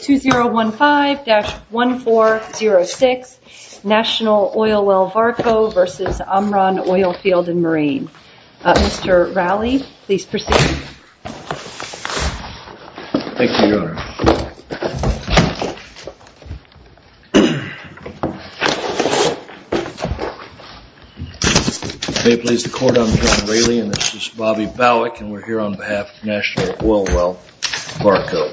2015-1406 National Oilwell Varco v. Omron Oilfield & Marine. Mr. Raleigh, please proceed. Thank you, Your Honor. May it please the Court, I'm John Raleigh and this is Bobby Bowick and we're here on behalf of National Oilwell Varco.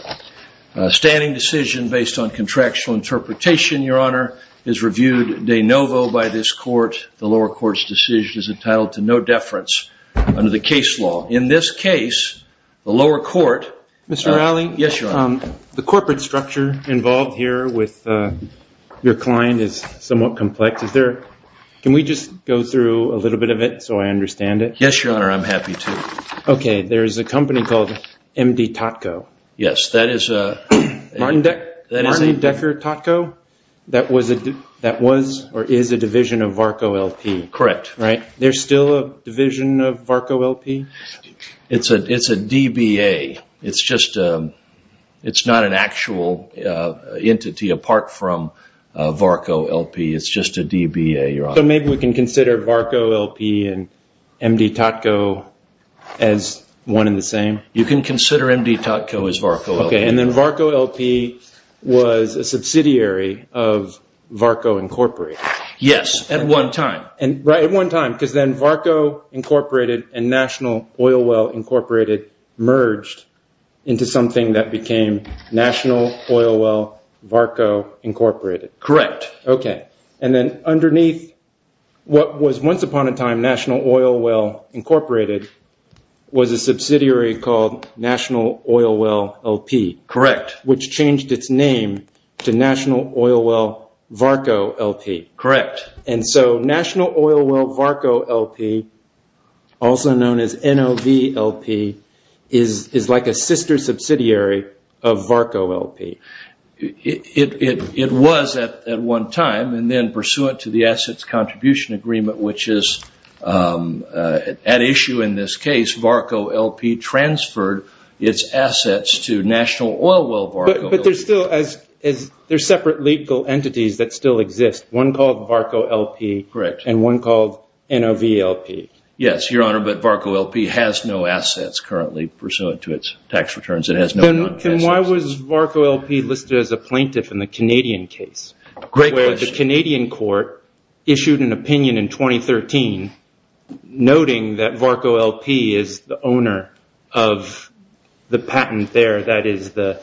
A standing decision based on contractual interpretation, Your Honor, is reviewed de novo by this Court. The lower court's decision is entitled to no deference under the case law. In this case, the lower court... Mr. Raleigh? Yes, Your Honor. The corporate structure involved here with your client is somewhat complex. Is there... can we just go through a little bit of it so I understand it? Yes, Your Honor, I'm happy to. Okay, there's a company called MD Totco. Yes, that is a... Martin Decker Totco? That was or is a division of Varco L.P. Correct. There's still a division of Varco L.P.? It's a DBA. It's just... it's not an actual entity apart from Varco L.P. It's just a DBA, Your Honor. So maybe we can consider Varco L.P. and MD Totco as one and the same? You can consider MD Totco as Varco L.P. Okay, and then Varco L.P. was a subsidiary of Varco Incorporated? Yes, at one time. Right, at one time, because then Varco Incorporated and National Oil Well Incorporated merged into something that became National Oil Well Varco Incorporated. Correct. Okay, and then underneath what was once upon a time National Oil Well Incorporated was a subsidiary called National Oil Well L.P.? Correct. Which changed its name to National Oil Well Varco L.P.? Correct. And so National Oil Well Varco L.P., also known as NOV L.P., is like a sister subsidiary of Varco L.P.? It was at one time, and then pursuant to the Assets Contribution Agreement, which is at issue in this case, Varco L.P. transferred its assets to National Oil Well Varco L.P. But there are separate legal entities that still exist, one called Varco L.P. Correct. And one called NOV L.P. Yes, Your Honor, but Varco L.P. has no assets currently, pursuant to its tax returns. Then why was Varco L.P. listed as a plaintiff in the Canadian case? Great question. The Canadian court issued an opinion in 2013, noting that Varco L.P. is the owner of the patent there, that is the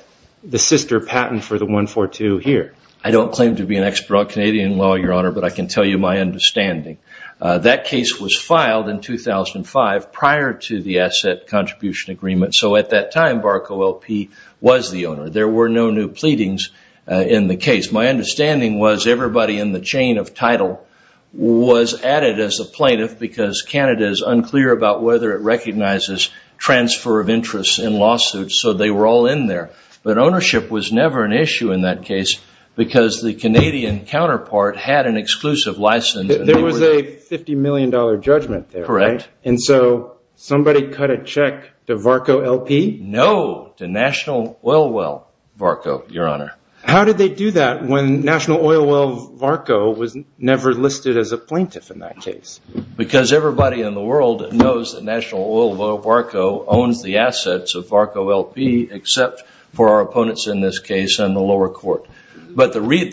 sister patent for the 142 here. I don't claim to be an expert on Canadian law, Your Honor, but I can tell you my understanding. That case was filed in 2005, prior to the Asset Contribution Agreement. So at that time, Varco L.P. was the owner. There were no new pleadings in the case. My understanding was everybody in the chain of title was added as a plaintiff because Canada is unclear about whether it recognizes transfer of interest in lawsuits, so they were all in there. But ownership was never an issue in that case because the Canadian counterpart had an exclusive license. There was a $50 million judgment there, right? Correct. And so somebody cut a check to Varco L.P.? No, to National Oil Well Varco, Your Honor. How did they do that when National Oil Well Varco was never listed as a plaintiff in that case? Because everybody in the world knows that National Oil Well Varco owns the assets of Varco L.P., except for our opponents in this case and the lower court. But the point is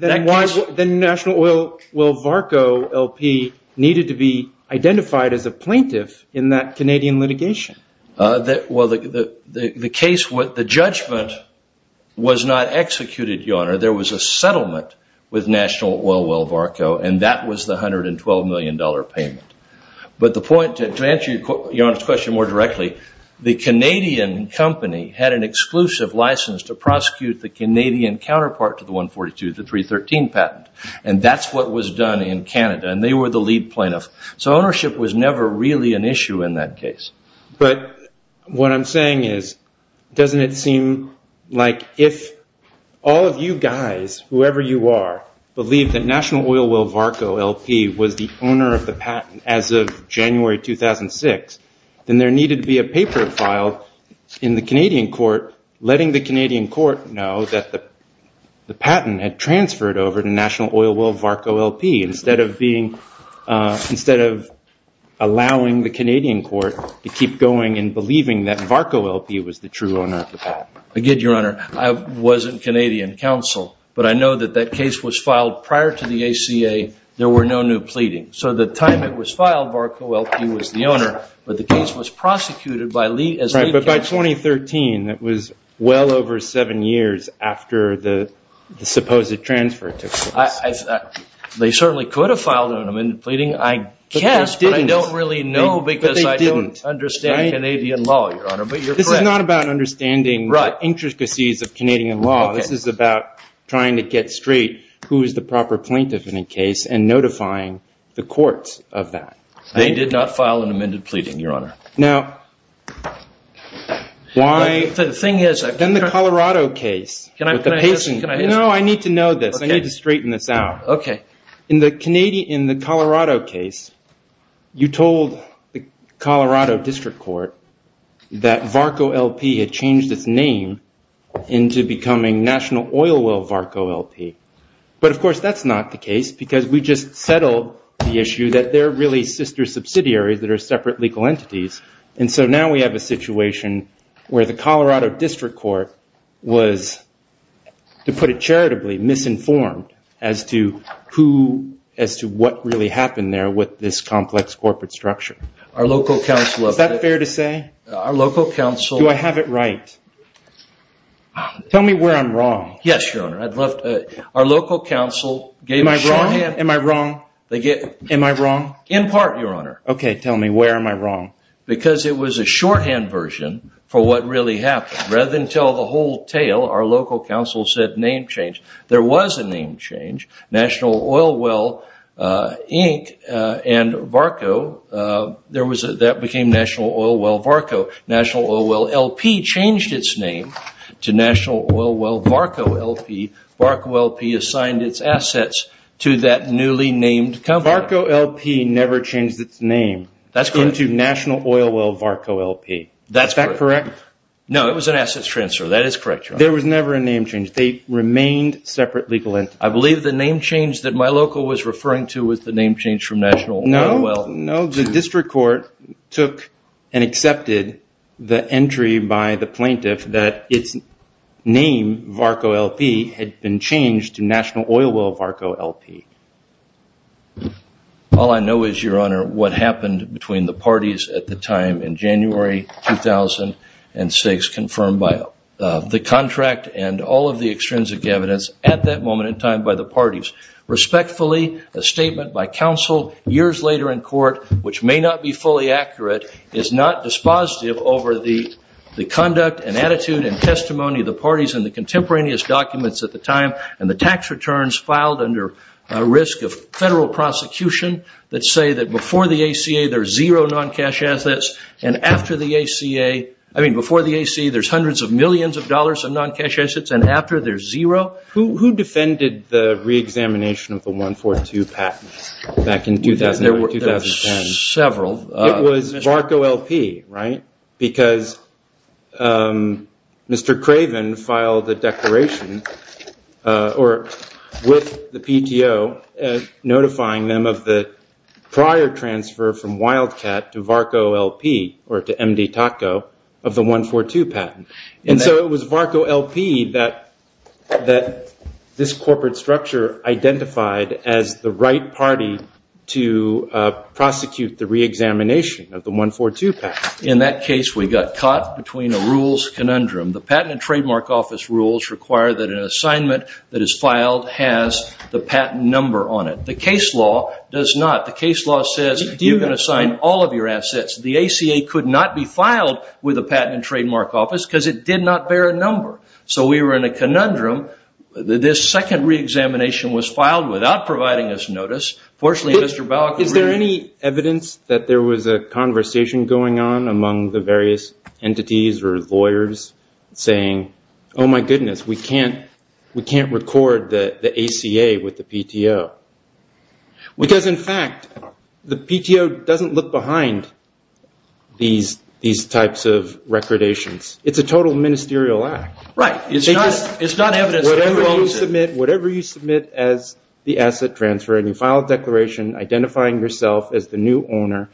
that case was the National Oil Well Varco L.P. needed to be identified as a plaintiff in that Canadian litigation. Well, the judgment was not executed, Your Honor. There was a settlement with National Oil Well Varco, and that was the $112 million payment. But to answer Your Honor's question more directly, the Canadian company had an exclusive license to prosecute the Canadian counterpart to the 142, the 313 patent, and that's what was done in Canada, and they were the lead plaintiff. So ownership was never really an issue in that case. But what I'm saying is, doesn't it seem like if all of you guys, whoever you are, believe that National Oil Well Varco L.P. was the owner of the patent as of January 2006, then there needed to be a paper filed in the Canadian court, letting the Canadian court know that the patent had transferred over to National Oil Well Varco L.P. instead of allowing the Canadian court to keep going and believing that Varco L.P. was the true owner of the patent. I did, Your Honor. I was in Canadian counsel, but I know that that case was filed prior to the ACA. There were no new pleadings. So the time it was filed, Varco L.P. was the owner, but the case was prosecuted as lead counsel. Right, but by 2013, that was well over seven years after the supposed transfer took place. They certainly could have filed an amended pleading. I guess, but I don't really know because I don't understand Canadian law, Your Honor. But you're correct. This is not about understanding the intricacies of Canadian law. This is about trying to get straight who is the proper plaintiff in a case and notifying the courts of that. They did not file an amended pleading, Your Honor. Now, why – The thing is – Then the Colorado case – Can I – No, I need to know this. I need to straighten this out. Okay. In the Colorado case, you told the Colorado District Court that Varco L.P. had changed its name into becoming National Oil Well Varco L.P. But, of course, that's not the case because we just settled the issue that they're really sister subsidiaries that are separate legal entities. And so now we have a situation where the Colorado District Court was, to put it charitably, misinformed as to who – as to what really happened there with this complex corporate structure. Our local counsel – Is that fair to say? Our local counsel – Do I have it right? Tell me where I'm wrong. Yes, Your Honor. Our local counsel gave – Am I wrong? Am I wrong? In part, Your Honor. Okay. Tell me where am I wrong. Because it was a shorthand version for what really happened. Rather than tell the whole tale, our local counsel said name change. There was a name change. National Oil Well Inc. and Varco – that became National Oil Well Varco. National Oil Well L.P. changed its name to National Oil Well Varco L.P. Varco L.P. assigned its assets to that newly named company. Varco L.P. never changed its name. That's correct. Into National Oil Well Varco L.P. That's correct. Is that correct? No, it was an assets transfer. That is correct, Your Honor. There was never a name change. They remained separate legal entities. I believe the name change that my local was referring to was the name change from National Oil Well – No, the district court took and accepted the entry by the plaintiff that its name, Varco L.P., had been changed to National Oil Well Varco L.P. All I know is, Your Honor, what happened between the parties at the time in January 2006 confirmed by the contract and all of the extrinsic evidence at that moment in time by the parties. Respectfully, a statement by counsel years later in court, which may not be fully accurate, is not dispositive over the conduct and attitude and testimony of the parties and the contemporaneous documents at the time and the tax returns filed under a risk of federal prosecution that say that before the ACA there's zero non-cash assets and after the ACA – I mean before the ACA there's hundreds of millions of dollars in non-cash assets and after there's zero. Well, who defended the re-examination of the 142 patent back in 2001, 2010? There were several. It was Varco L.P., right, because Mr. Craven filed a declaration with the PTO notifying them of the prior transfer from Wildcat to Varco L.P. or to MD TACO of the 142 patent. And so it was Varco L.P. that this corporate structure identified as the right party to prosecute the re-examination of the 142 patent. In that case, we got caught between a rules conundrum. The Patent and Trademark Office rules require that an assignment that is filed has the patent number on it. The case law does not. The case law says you can assign all of your assets. The ACA could not be filed with the Patent and Trademark Office because it did not bear a number. So we were in a conundrum. This second re-examination was filed without providing us notice. Fortunately, Mr. Baucus – Is there any evidence that there was a conversation going on among the various entities or lawyers saying, oh, my goodness, we can't record the ACA with the PTO? Because, in fact, the PTO doesn't look behind these types of recordations. It's a total ministerial act. Right. It's not evidence. Whatever you submit as the asset transfer and you file a declaration identifying yourself as the new owner,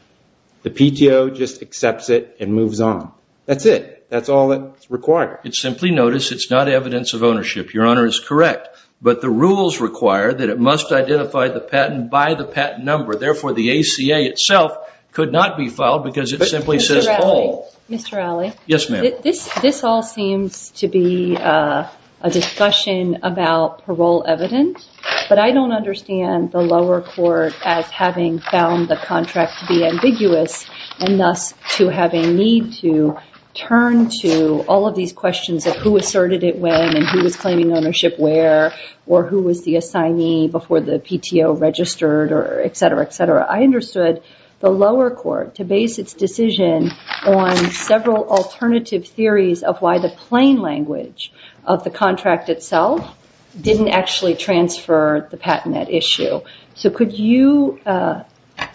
the PTO just accepts it and moves on. That's it. That's all that's required. It's simply notice. It's not evidence of ownership. Your Honor is correct. But the rules require that it must identify the patent by the patent number. Therefore, the ACA itself could not be filed because it simply says all. Mr. Alley. Yes, ma'am. This all seems to be a discussion about parole evidence, but I don't understand the lower court as having found the contract to be ambiguous and thus to have a need to turn to all of these questions of who asserted it when and who was claiming ownership where or who was the assignee before the PTO registered, etc., etc. I understood the lower court to base its decision on several alternative theories of why the plain language of the contract itself didn't actually transfer the patent at issue. So could you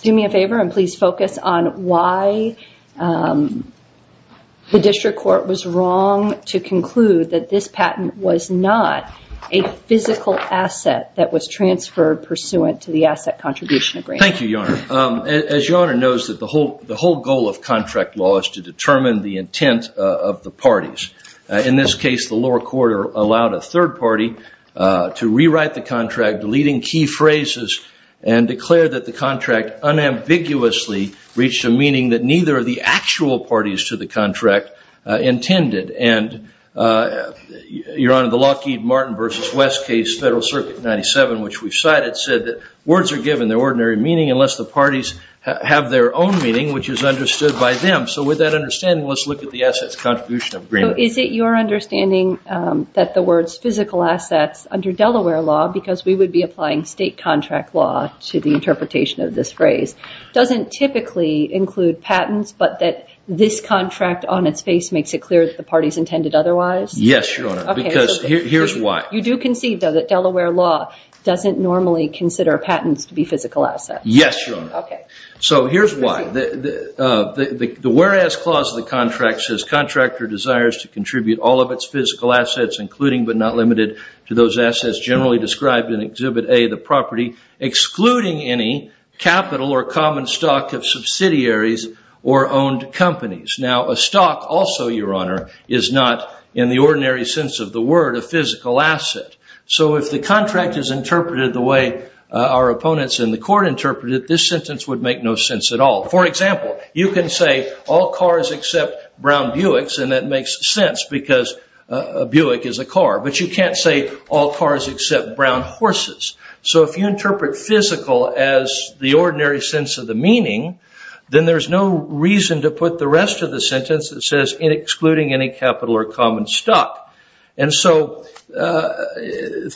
do me a favor and please focus on why the district court was wrong to conclude that this patent was not a physical asset that was transferred pursuant to the asset contribution agreement? Thank you, Your Honor. As Your Honor knows, the whole goal of contract law is to determine the intent of the parties. In this case, the lower court allowed a third party to rewrite the contract, deleting key phrases, and declared that the contract unambiguously reached a meaning that neither of the actual parties to the contract intended. And, Your Honor, the Lockheed Martin v. West case, Federal Circuit 97, which we've cited, said that words are given their ordinary meaning unless the parties have their own meaning, which is understood by them. So with that understanding, let's look at the assets contribution agreement. So is it your understanding that the words physical assets under Delaware law, because we would be applying state contract law to the interpretation of this phrase, doesn't typically include patents, but that this contract on its face makes it clear that the parties intended otherwise? Yes, Your Honor, because here's why. You do concede, though, that Delaware law doesn't normally consider patents to be physical assets. Yes, Your Honor. Okay. So here's why. The whereas clause of the contract says contractor desires to contribute all of its physical assets, including but not limited to those assets generally described in Exhibit A of the property, excluding any capital or common stock of subsidiaries or owned companies. Now, a stock also, Your Honor, is not, in the ordinary sense of the word, a physical asset. So if the contract is interpreted the way our opponents in the court interpreted it, this sentence would make no sense at all. For example, you can say all cars except brown Buicks, and that makes sense because a Buick is a car. But you can't say all cars except brown horses. So if you interpret physical as the ordinary sense of the meaning, then there's no reason to put the rest of the sentence that says excluding any capital or common stock. And so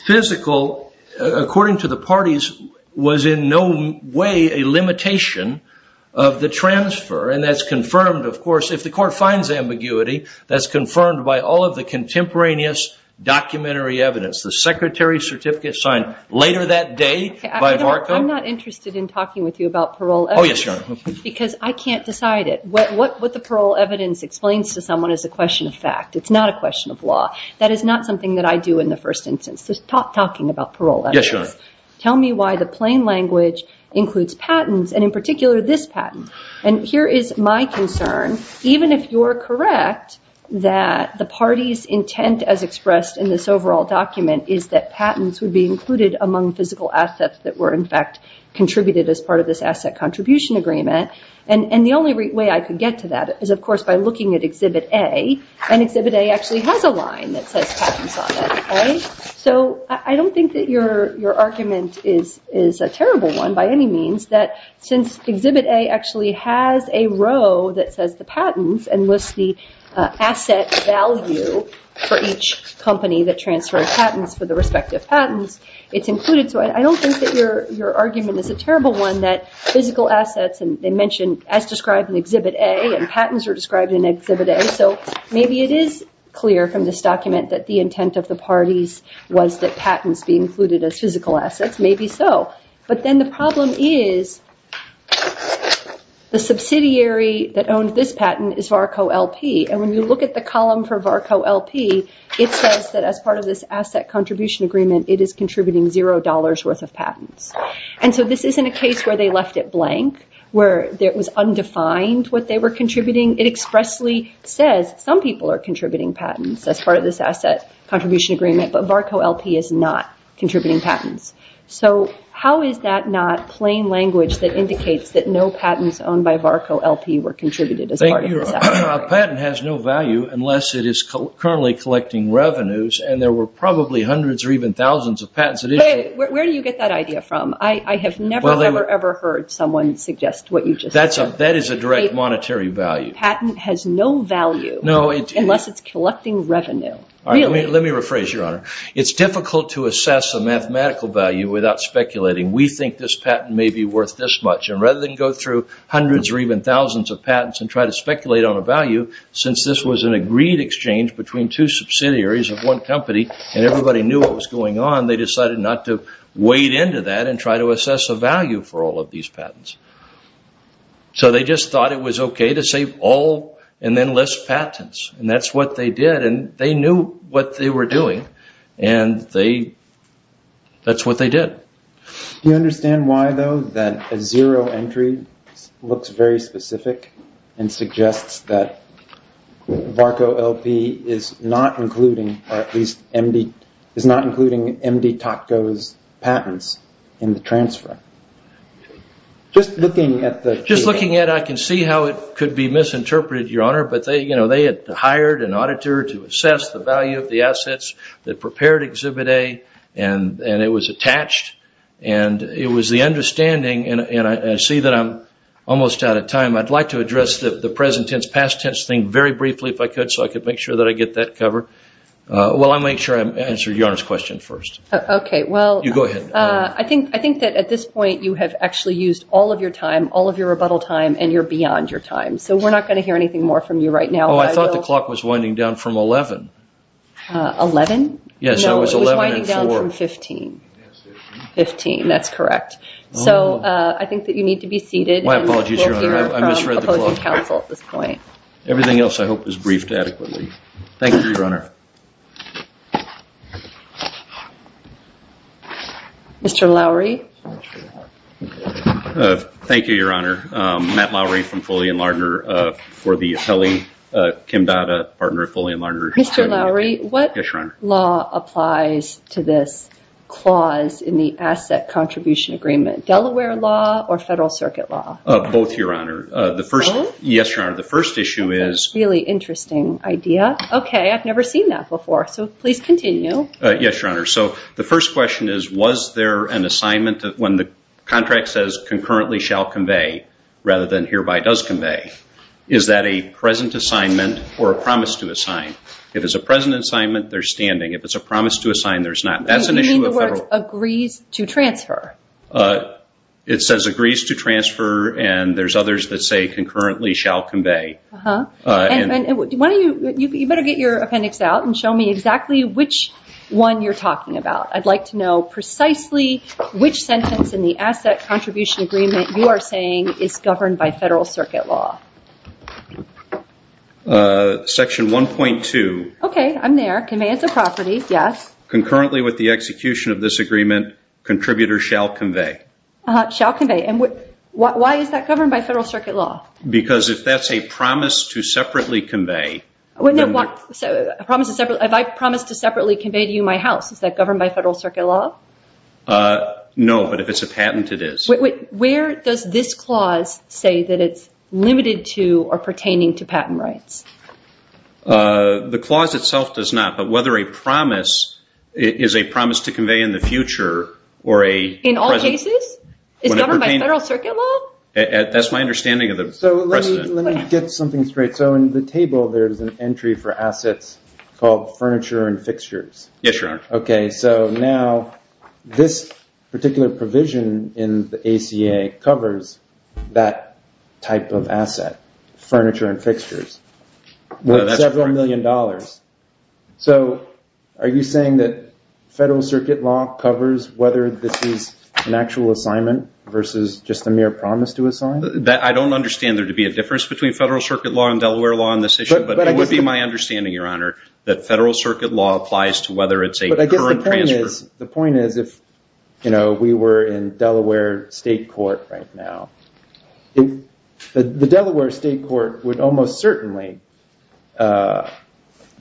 physical, according to the parties, was in no way a limitation of the transfer. And that's confirmed, of course, if the court finds ambiguity, that's confirmed by all of the contemporaneous documentary evidence. The secretary's certificate signed later that day by Varka. I'm not interested in talking with you about parole evidence. Oh, yes, Your Honor. Because I can't decide it. What the parole evidence explains to someone is a question of fact. It's not a question of law. That is not something that I do in the first instance. So stop talking about parole evidence. Yes, Your Honor. Tell me why the plain language includes patents, and in particular this patent. And here is my concern. Even if you're correct that the party's intent, as expressed in this overall document, is that patents would be included among physical assets that were, in fact, contributed as part of this asset contribution agreement, and the only way I could get to that is, of course, by looking at Exhibit A. And Exhibit A actually has a line that says patents on it. So I don't think that your argument is a terrible one by any means, that since Exhibit A actually has a row that says the patents and lists the asset value for each company that transferred patents for the respective patents, it's included. So I don't think that your argument is a terrible one in that physical assets, and they mention as described in Exhibit A, and patents are described in Exhibit A. So maybe it is clear from this document that the intent of the parties was that patents be included as physical assets. Maybe so. But then the problem is the subsidiary that owned this patent is VARCO-LP. And when you look at the column for VARCO-LP, it says that as part of this asset contribution agreement, it is contributing $0 worth of patents. And so this isn't a case where they left it blank, where it was undefined what they were contributing. It expressly says some people are contributing patents as part of this asset contribution agreement, but VARCO-LP is not contributing patents. So how is that not plain language that indicates that no patents owned by VARCO-LP were contributed as part of this asset? A patent has no value unless it is currently collecting revenues, and there were probably hundreds or even thousands of patents that issued. Where do you get that idea from? I have never, ever, ever heard someone suggest what you just said. That is a direct monetary value. A patent has no value unless it is collecting revenue. Let me rephrase, Your Honor. It is difficult to assess a mathematical value without speculating. We think this patent may be worth this much. And rather than go through hundreds or even thousands of patents and try to speculate on a value, since this was an agreed exchange between two subsidiaries of one company and everybody knew what was going on, they decided not to wade into that and try to assess a value for all of these patents. So they just thought it was okay to say all and then list patents. And that is what they did, and they knew what they were doing, and that is what they did. Do you understand why, though, that a zero entry looks very specific and suggests that VARCO-LP is not including MD-TACO's patents in the transfer? Just looking at the... Just looking at it, I can see how it could be misinterpreted, Your Honor, but they had hired an auditor to assess the value of the assets that prepared Exhibit A, and it was attached, and it was the understanding, and I see that I am almost out of time. I'd like to address the present tense, past tense thing very briefly if I could so I could make sure that I get that covered. Well, I'll make sure I answer Your Honor's question first. Okay, well... You go ahead. I think that at this point you have actually used all of your time, all of your rebuttal time, and you're beyond your time, so we're not going to hear anything more from you right now. Oh, I thought the clock was winding down from 11. 11? Yes, it was 11 and 4. No, it was winding down from 15. 15, that's correct. So I think that you need to be seated. My apologies, Your Honor. I misread the clock. Everything else, I hope, is briefed adequately. Thank you, Your Honor. Mr. Lowery? Thank you, Your Honor. Matt Lowery from Foley & Lardner for the appellee. Kim Dada, partner at Foley & Lardner. Mr. Lowery, what law applies to this clause in the asset contribution agreement? Delaware law or Federal Circuit law? Both, Your Honor. Both? Yes, Your Honor. The first issue is. That's a really interesting idea. Okay, I've never seen that before, so please continue. Yes, Your Honor. So the first question is, was there an assignment when the contract says concurrently shall convey rather than hereby does convey, is that a present assignment or a promise to assign? If it's a present assignment, there's standing. If it's a promise to assign, there's not. That's an issue of Federal. You mean the word agrees to transfer? It says agrees to transfer, and there's others that say concurrently shall convey. You better get your appendix out and show me exactly which one you're talking about. I'd like to know precisely which sentence in the asset contribution agreement you are saying is governed by Federal Circuit law. Section 1.2. Okay, I'm there. Commands of property, yes. Concurrently with the execution of this agreement, contributors shall convey. Shall convey. Why is that governed by Federal Circuit law? Because if that's a promise to separately convey. If I promise to separately convey to you my house, is that governed by Federal Circuit law? No, but if it's a patent, it is. Where does this clause say that it's limited to or pertaining to patent rights? The clause itself does not, but whether a promise is a promise to convey in the future or a present. In all cases? Is it governed by Federal Circuit law? That's my understanding of the precedent. Let me get something straight. In the table, there's an entry for assets called furniture and fixtures. Yes, Your Honor. Now, this particular provision in the ACA covers that type of asset, furniture and fixtures, with several million dollars. So are you saying that Federal Circuit law covers whether this is an actual assignment versus just a mere promise to assign? I don't understand there to be a difference between Federal Circuit law and Delaware law on this issue, but it would be my understanding, Your Honor, that Federal Circuit law applies to whether it's a current transfer. But I guess the point is if we were in Delaware state court right now, the Delaware state court would almost certainly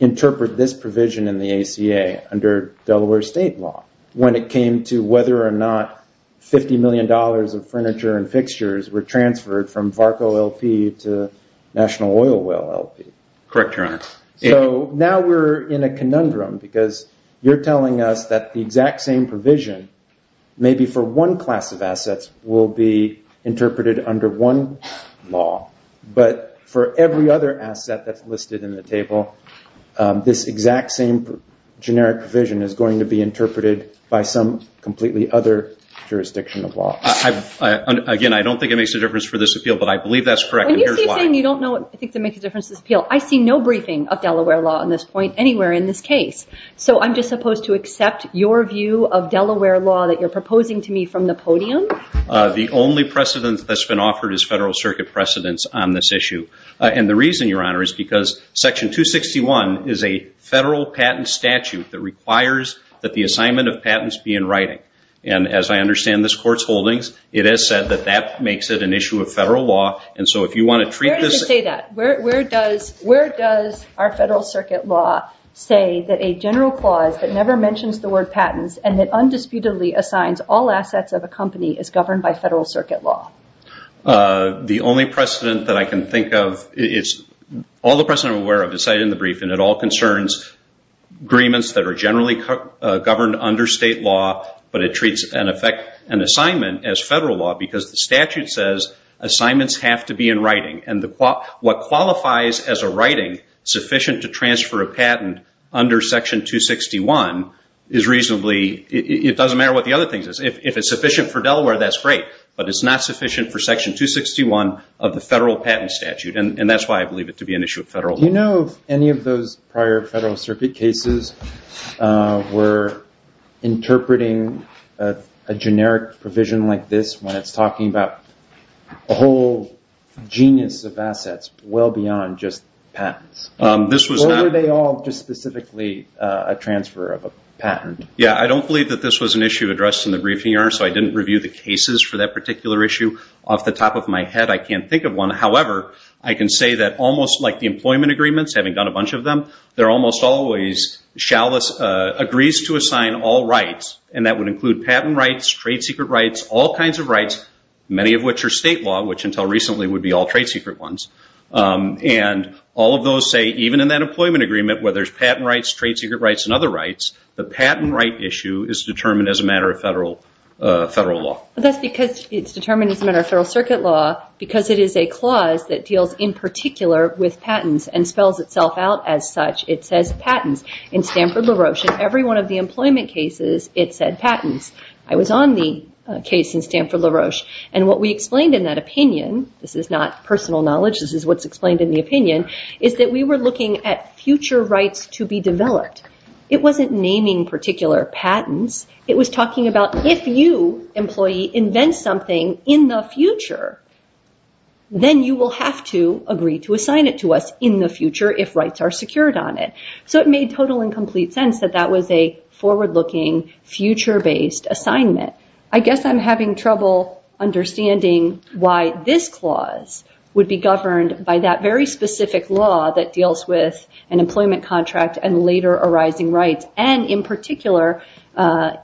interpret this provision in the ACA under Delaware state law when it came to whether or not $50 million of furniture and fixtures were transferred from VARCO LP to National Oil Well LP. Correct, Your Honor. So now we're in a conundrum because you're telling us that the exact same provision, maybe for one class of assets, will be interpreted under one law, but for every other asset that's listed in the table, this exact same generic provision is going to be interpreted by some completely other jurisdiction of law. Again, I don't think it makes a difference for this appeal, but I believe that's correct, and here's why. When you say you don't think it makes a difference for this appeal, I see no briefing of Delaware law on this point anywhere in this case. So I'm just supposed to accept your view of Delaware law that you're proposing to me from the podium? The only precedence that's been offered is Federal Circuit precedence on this issue. And the reason, Your Honor, is because Section 261 is a Federal patent statute that requires that the assignment of patents be in writing. And as I understand this Court's holdings, it has said that that makes it an issue of Federal law. Where does it say that? Where does our Federal Circuit law say that a general clause that never mentions the word patents and that undisputedly assigns all assets of a company is governed by Federal Circuit law? The only precedent that I can think of, all the precedent I'm aware of is cited in the brief, and it all concerns agreements that are generally governed under state law, but it treats an assignment as Federal law because the statute says assignments have to be in writing. And what qualifies as a writing sufficient to transfer a patent under Section 261 is reasonably, it doesn't matter what the other thing is. If it's sufficient for Delaware, that's great. But it's not sufficient for Section 261 of the Federal patent statute, and that's why I believe it to be an issue of Federal law. Do you know if any of those prior Federal Circuit cases were interpreting a generic provision like this when it's talking about a whole genius of assets well beyond just patents? Or were they all just specifically a transfer of a patent? Yeah, I don't believe that this was an issue addressed in the briefing here, so I didn't review the cases for that particular issue off the top of my head. I can't think of one. However, I can say that almost like the employment agreements, having done a bunch of them, there are almost always agrees to assign all rights, and that would include patent rights, trade secret rights, all kinds of rights, many of which are state law, which until recently would be all trade secret ones. And all of those say even in that employment agreement where there's patent rights, trade secret rights, and other rights, the patent right issue is determined as a matter of Federal law. Well, that's because it's determined as a matter of Federal Circuit law because it is a clause that deals in particular with patents and spells itself out as such. It says patents. In Stanford-LaRoche, in every one of the employment cases, it said patents. I was on the case in Stanford-LaRoche, and what we explained in that opinion, this is not personal knowledge, this is what's explained in the opinion, is that we were looking at future rights to be developed. It wasn't naming particular patents. It was talking about if you, employee, invent something in the future, then you will have to agree to assign it to us in the future if rights are secured on it. So it made total and complete sense that that was a forward-looking, future-based assignment. I guess I'm having trouble understanding why this clause would be governed by that very specific law that deals with an employment contract and later arising rights, and in particular,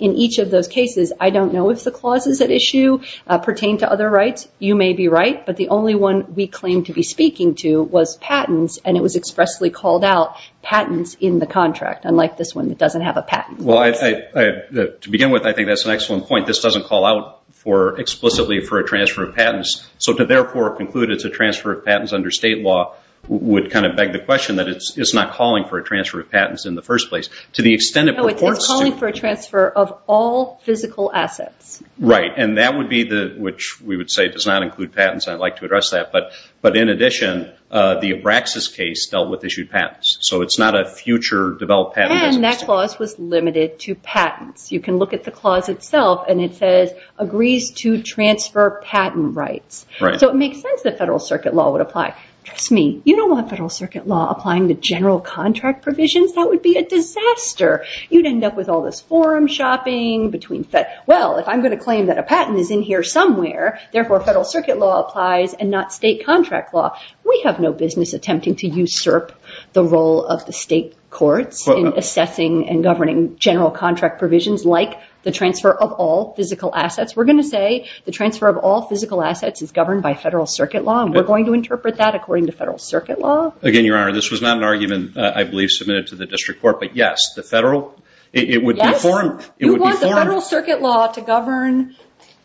in each of those cases, I don't know if the clauses at issue pertain to other rights. You may be right, but the only one we claim to be speaking to was patents, and it was expressly called out, patents in the contract, unlike this one that doesn't have a patent. Well, to begin with, I think that's an excellent point. This doesn't call out explicitly for a transfer of patents, so to therefore conclude it's a transfer of patents under state law would kind of beg the question that it's not calling for a transfer of patents in the first place. To the extent it purports to. No, it's calling for a transfer of all physical assets. Right, and that would be the, which we would say does not include patents, and I'd like to address that, but in addition, the Abraxas case dealt with issued patents, so it's not a future developed patent. And that clause was limited to patents. You can look at the clause itself, and it says, agrees to transfer patent rights. Right. So it makes sense that federal circuit law would apply. Trust me, you don't want federal circuit law applying to general contract provisions. That would be a disaster. You'd end up with all this forum shopping between, well, if I'm going to claim that a patent is in here somewhere, therefore federal circuit law applies and not state contract law. We have no business attempting to usurp the role of the state courts in assessing and governing general contract provisions like the transfer of all physical assets. We're going to say the transfer of all physical assets is governed by federal circuit law, and we're going to interpret that according to federal circuit law. Again, Your Honor, this was not an argument I believe submitted to the district court, but yes, the federal, it would be formed. You want the federal circuit law to govern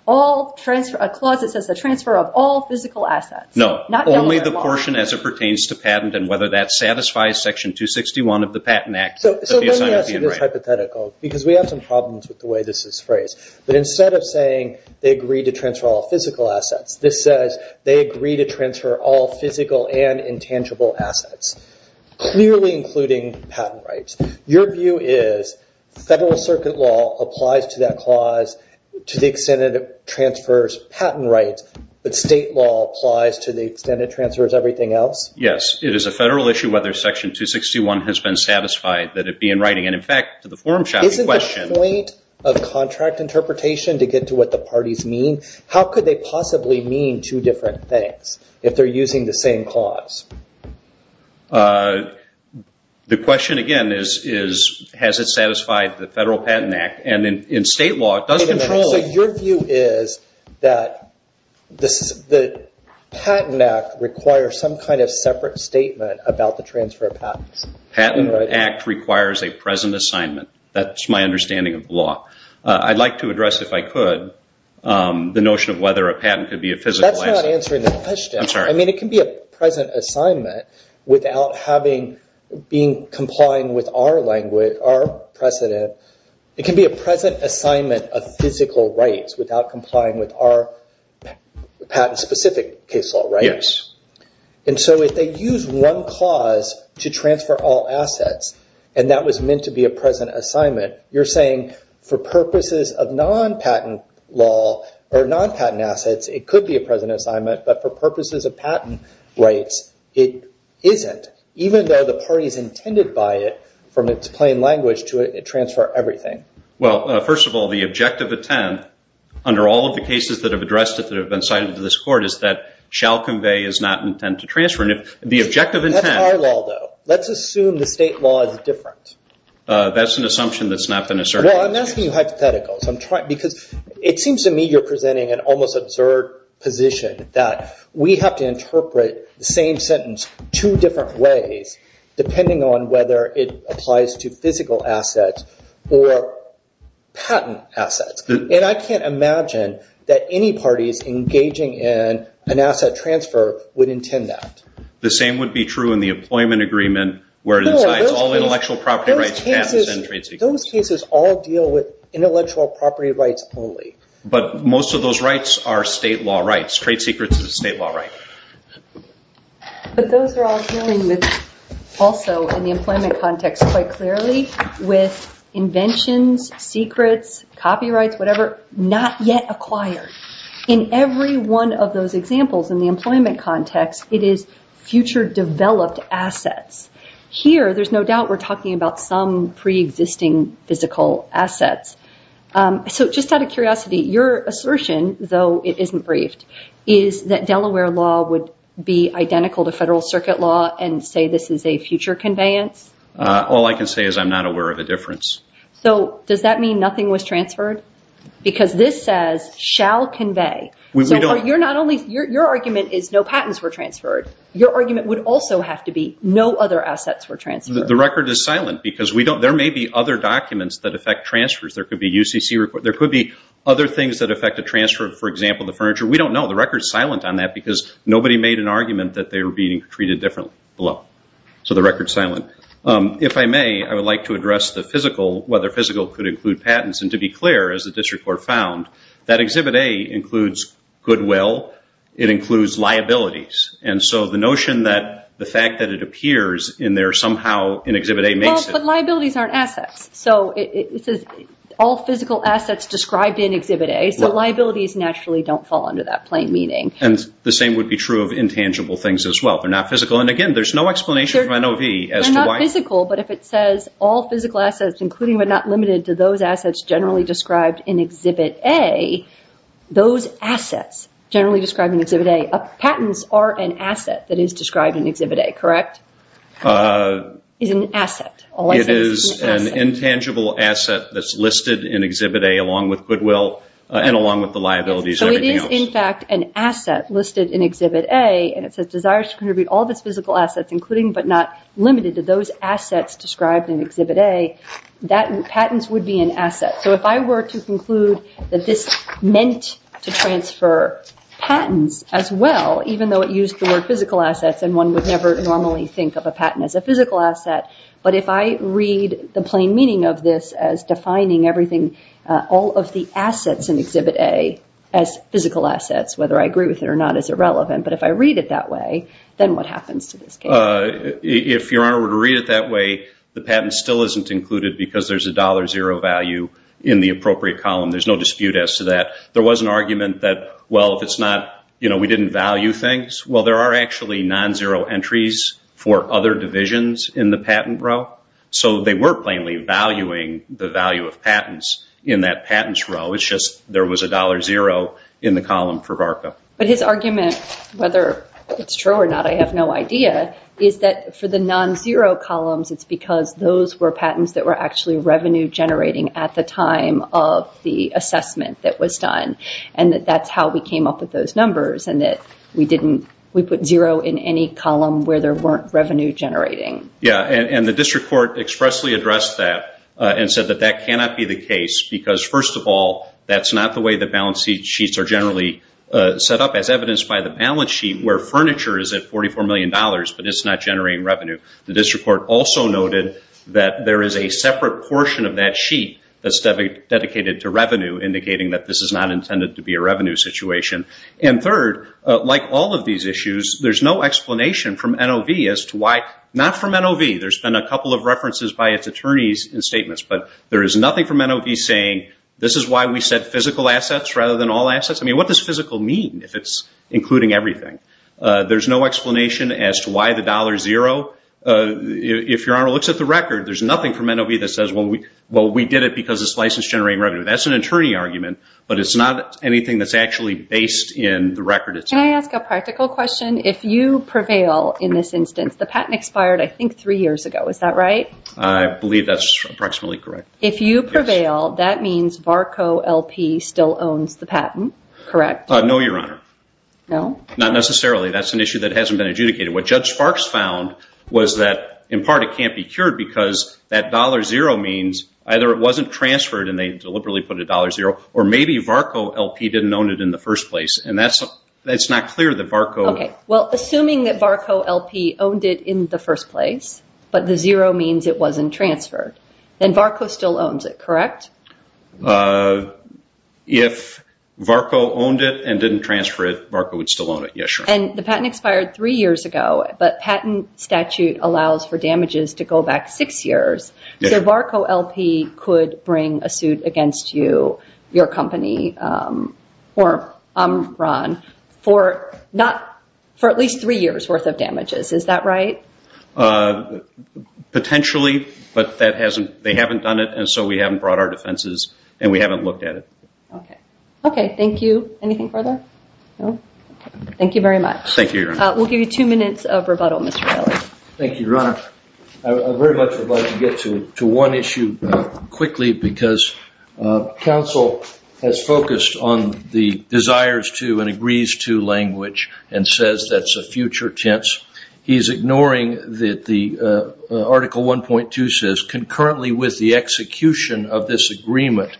a clause that says the transfer of all physical assets. No, only the portion as it pertains to patent and whether that satisfies Section 261 of the Patent Act. So let me ask you this hypothetical, because we have some problems with the way this is phrased. But instead of saying they agree to transfer all physical assets, this says they agree to transfer all physical and intangible assets, clearly including patent rights. Your view is federal circuit law applies to that clause to the extent it transfers patent rights, but state law applies to the extent it transfers everything else? Yes, it is a federal issue whether Section 261 has been satisfied that it be in writing. In fact, to the forum shopping question- Isn't the point of contract interpretation to get to what the parties mean? How could they possibly mean two different things if they're using the same clause? The question again is, has it satisfied the Federal Patent Act? And in state law, it does control- So your view is that the Patent Act requires some kind of separate statement about the transfer of patents? The Patent Act requires a present assignment. That's my understanding of the law. I'd like to address, if I could, the notion of whether a patent could be a physical asset. That's not answering the question. I'm sorry. I mean, it can be a present assignment without having- being complying with our language, our precedent. It can be a present assignment of physical rights without complying with our patent-specific case law, right? Yes. And so if they use one clause to transfer all assets, and that was meant to be a present assignment, you're saying for purposes of non-patent law or non-patent assets, it could be a present assignment, but for purposes of patent rights, it isn't, even though the parties intended by it from its plain language to it transfer everything. Well, first of all, the objective intent under all of the cases that have addressed it that have been cited to this Court is that shall convey is not intent to transfer. The objective intent- That's our law, though. Let's assume the state law is different. That's an assumption that's not been asserted. Well, I'm asking you hypotheticals because it seems to me you're presenting an almost absurd position that we have to interpret the same sentence two different ways, depending on whether it applies to physical assets or patent assets. And I can't imagine that any parties engaging in an asset transfer would intend that. The same would be true in the employment agreement where it incites all intellectual property rights, patents, and trade secrets. Those cases all deal with intellectual property rights only. But most of those rights are state law rights. Trade secrets is a state law right. But those are all dealing with, also in the employment context quite clearly, with inventions, secrets, copyrights, whatever, not yet acquired. In every one of those examples in the employment context, it is future developed assets. Here, there's no doubt we're talking about some preexisting physical assets. So just out of curiosity, your assertion, though it isn't briefed, is that Delaware law would be identical to Federal Circuit law and say this is a future conveyance? All I can say is I'm not aware of a difference. So does that mean nothing was transferred? Because this says shall convey. Your argument is no patents were transferred. Your argument would also have to be no other assets were transferred. The record is silent because there may be other documents that affect transfers. There could be other things that affect a transfer, for example, the furniture. We don't know. The record is silent on that because nobody made an argument that they were being treated differently. So the record is silent. If I may, I would like to address whether physical could include patents. And to be clear, as the district court found, that Exhibit A includes goodwill. It includes liabilities. And so the notion that the fact that it appears in there somehow in Exhibit A makes it. But liabilities aren't assets. So it says all physical assets described in Exhibit A. So liabilities naturally don't fall under that plain meaning. And the same would be true of intangible things as well. They're not physical. And, again, there's no explanation from NOV as to why. It's physical, but if it says all physical assets, including but not limited to those assets generally described in Exhibit A, those assets generally described in Exhibit A, patents are an asset that is described in Exhibit A, correct? It's an asset. It is an intangible asset that's listed in Exhibit A along with goodwill and along with the liabilities and everything else. So it is, in fact, an asset listed in Exhibit A. And it says desires to contribute all of its physical assets, including but not limited to those assets described in Exhibit A, patents would be an asset. So if I were to conclude that this meant to transfer patents as well, even though it used the word physical assets and one would never normally think of a patent as a physical asset, but if I read the plain meaning of this as defining everything, all of the assets in Exhibit A as physical assets, whether I agree with it or not, is irrelevant. But if I read it that way, then what happens to this case? If, Your Honor, were to read it that way, the patent still isn't included because there's a $0 value in the appropriate column. There's no dispute as to that. There was an argument that, well, if it's not, you know, we didn't value things. Well, there are actually non-zero entries for other divisions in the patent row. So they were plainly valuing the value of patents in that patents row. It's just there was a $0 in the column for BARCA. But his argument, whether it's true or not, I have no idea, is that for the non-zero columns, it's because those were patents that were actually revenue generating at the time of the assessment that was done and that that's how we came up with those numbers and that we put zero in any column where there weren't revenue generating. Yeah, and the district court expressly addressed that and said that that cannot be the case because, first of all, that's not the way that balance sheets are generally set up, as evidenced by the balance sheet where furniture is at $44 million, but it's not generating revenue. The district court also noted that there is a separate portion of that sheet that's dedicated to revenue, indicating that this is not intended to be a revenue situation. And third, like all of these issues, there's no explanation from NOV as to why – not from NOV. There's been a couple of references by its attorneys in statements, but there is nothing from NOV saying, this is why we said physical assets rather than all assets. I mean, what does physical mean if it's including everything? There's no explanation as to why the $0 – if Your Honor looks at the record, there's nothing from NOV that says, well, we did it because it's license generating revenue. That's an attorney argument, but it's not anything that's actually based in the record itself. Can I ask a practical question? If you prevail in this instance, the patent expired, I think, three years ago. Is that right? I believe that's approximately correct. If you prevail, that means VARCO LP still owns the patent, correct? No, Your Honor. No? Not necessarily. That's an issue that hasn't been adjudicated. What Judge Sparks found was that, in part, it can't be cured because that $0 means either it wasn't transferred and they deliberately put a $0, or maybe VARCO LP didn't own it in the first place. And that's not clear that VARCO – Okay. Well, assuming that VARCO LP owned it in the first place, but the 0 means it wasn't transferred, then VARCO still owns it, correct? If VARCO owned it and didn't transfer it, VARCO would still own it. Yes, Your Honor. And the patent expired three years ago, but patent statute allows for damages to go back six years. So VARCO LP could bring a suit against you, your company, or Amran, for at least three years' worth of damages. Is that right? Potentially, but they haven't done it, and so we haven't brought our defenses, and we haven't looked at it. Okay. Thank you. Anything further? No? Thank you very much. Thank you, Your Honor. We'll give you two minutes of rebuttal, Mr. Riley. Thank you, Your Honor. I very much would like to get to one issue quickly because counsel has focused on the desires to and agrees to language and says that's a future tense. He's ignoring that the Article 1.2 says, Concurrently with the execution of this agreement,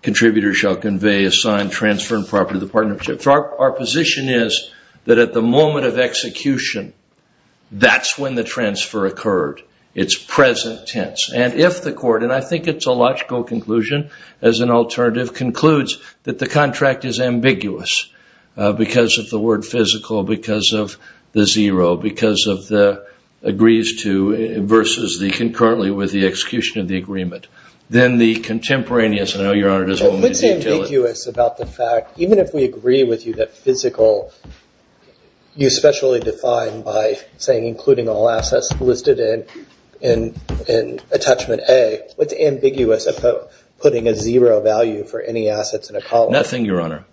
contributors shall convey, assign, transfer, and property to the partnership. Our position is that at the moment of execution, that's when the transfer occurred. It's present tense. And if the court, and I think it's a logical conclusion as an alternative, concludes that the contract is ambiguous because of the word physical, because of the zero, because of the agrees to, versus the concurrently with the execution of the agreement, then the contemporaneous, I know Your Honor, What's ambiguous about the fact, even if we agree with you that physical, you specially define by saying including all assets listed in attachment A, what's ambiguous about putting a zero value for any assets in a column? Nothing, Your Honor.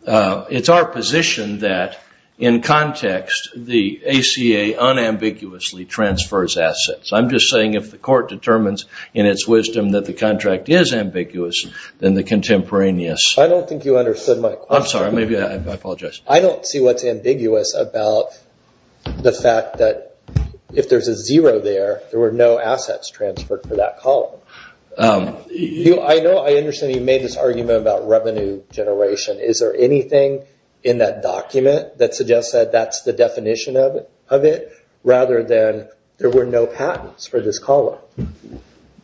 It's our position that in context, the ACA unambiguously transfers assets. I'm just saying if the court determines in its wisdom that the contract is ambiguous, then the contemporaneous. I don't think you understood my question. I'm sorry. I apologize. I don't see what's ambiguous about the fact that if there's a zero there, there were no assets transferred for that column. I understand you made this argument about revenue generation. Is there anything in that document that suggests that that's the definition of it, rather than there were no patents for this column?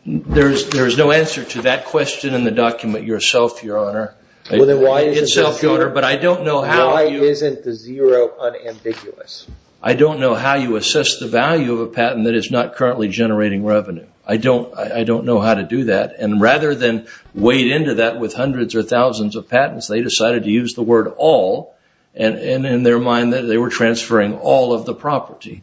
There's no answer to that question in the document yourself, Your Honor. Well, then why isn't the zero unambiguous? I don't know how you assess the value of a patent that is not currently generating revenue. I don't know how to do that. And rather than wade into that with hundreds or thousands of patents, they decided to use the word all, and in their mind they were transferring all of the property.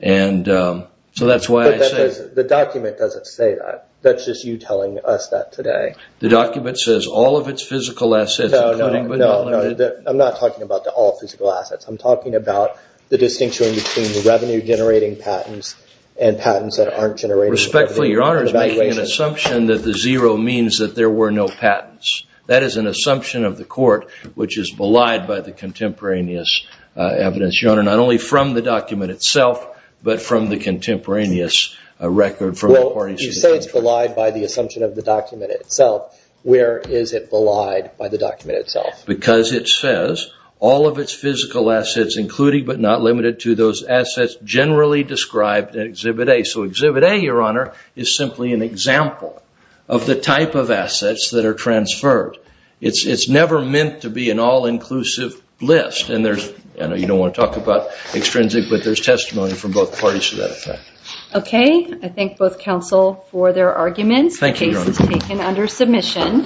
So that's why I say… But the document doesn't say that. That's just you telling us that today. The document says all of its physical assets, including but not limited… No, no, no. I'm not talking about the all physical assets. I'm talking about the distinction between revenue generating patents and patents that aren't generating revenue. Respectfully, Your Honor, is making an assumption that the zero means that there were no patents. That is an assumption of the court, which is belied by the contemporaneous evidence. Your Honor, not only from the document itself, but from the contemporaneous record from… Well, you say it's belied by the assumption of the document itself. Where is it belied by the document itself? Because it says all of its physical assets, including but not limited to those assets, generally described in Exhibit A. So Exhibit A, Your Honor, is simply an example of the type of assets that are transferred. It's never meant to be an all-inclusive list. You don't want to talk about extrinsic, but there's testimony from both parties to that effect. Okay. I thank both counsel for their arguments. Thank you, Your Honor. The case is taken under submission.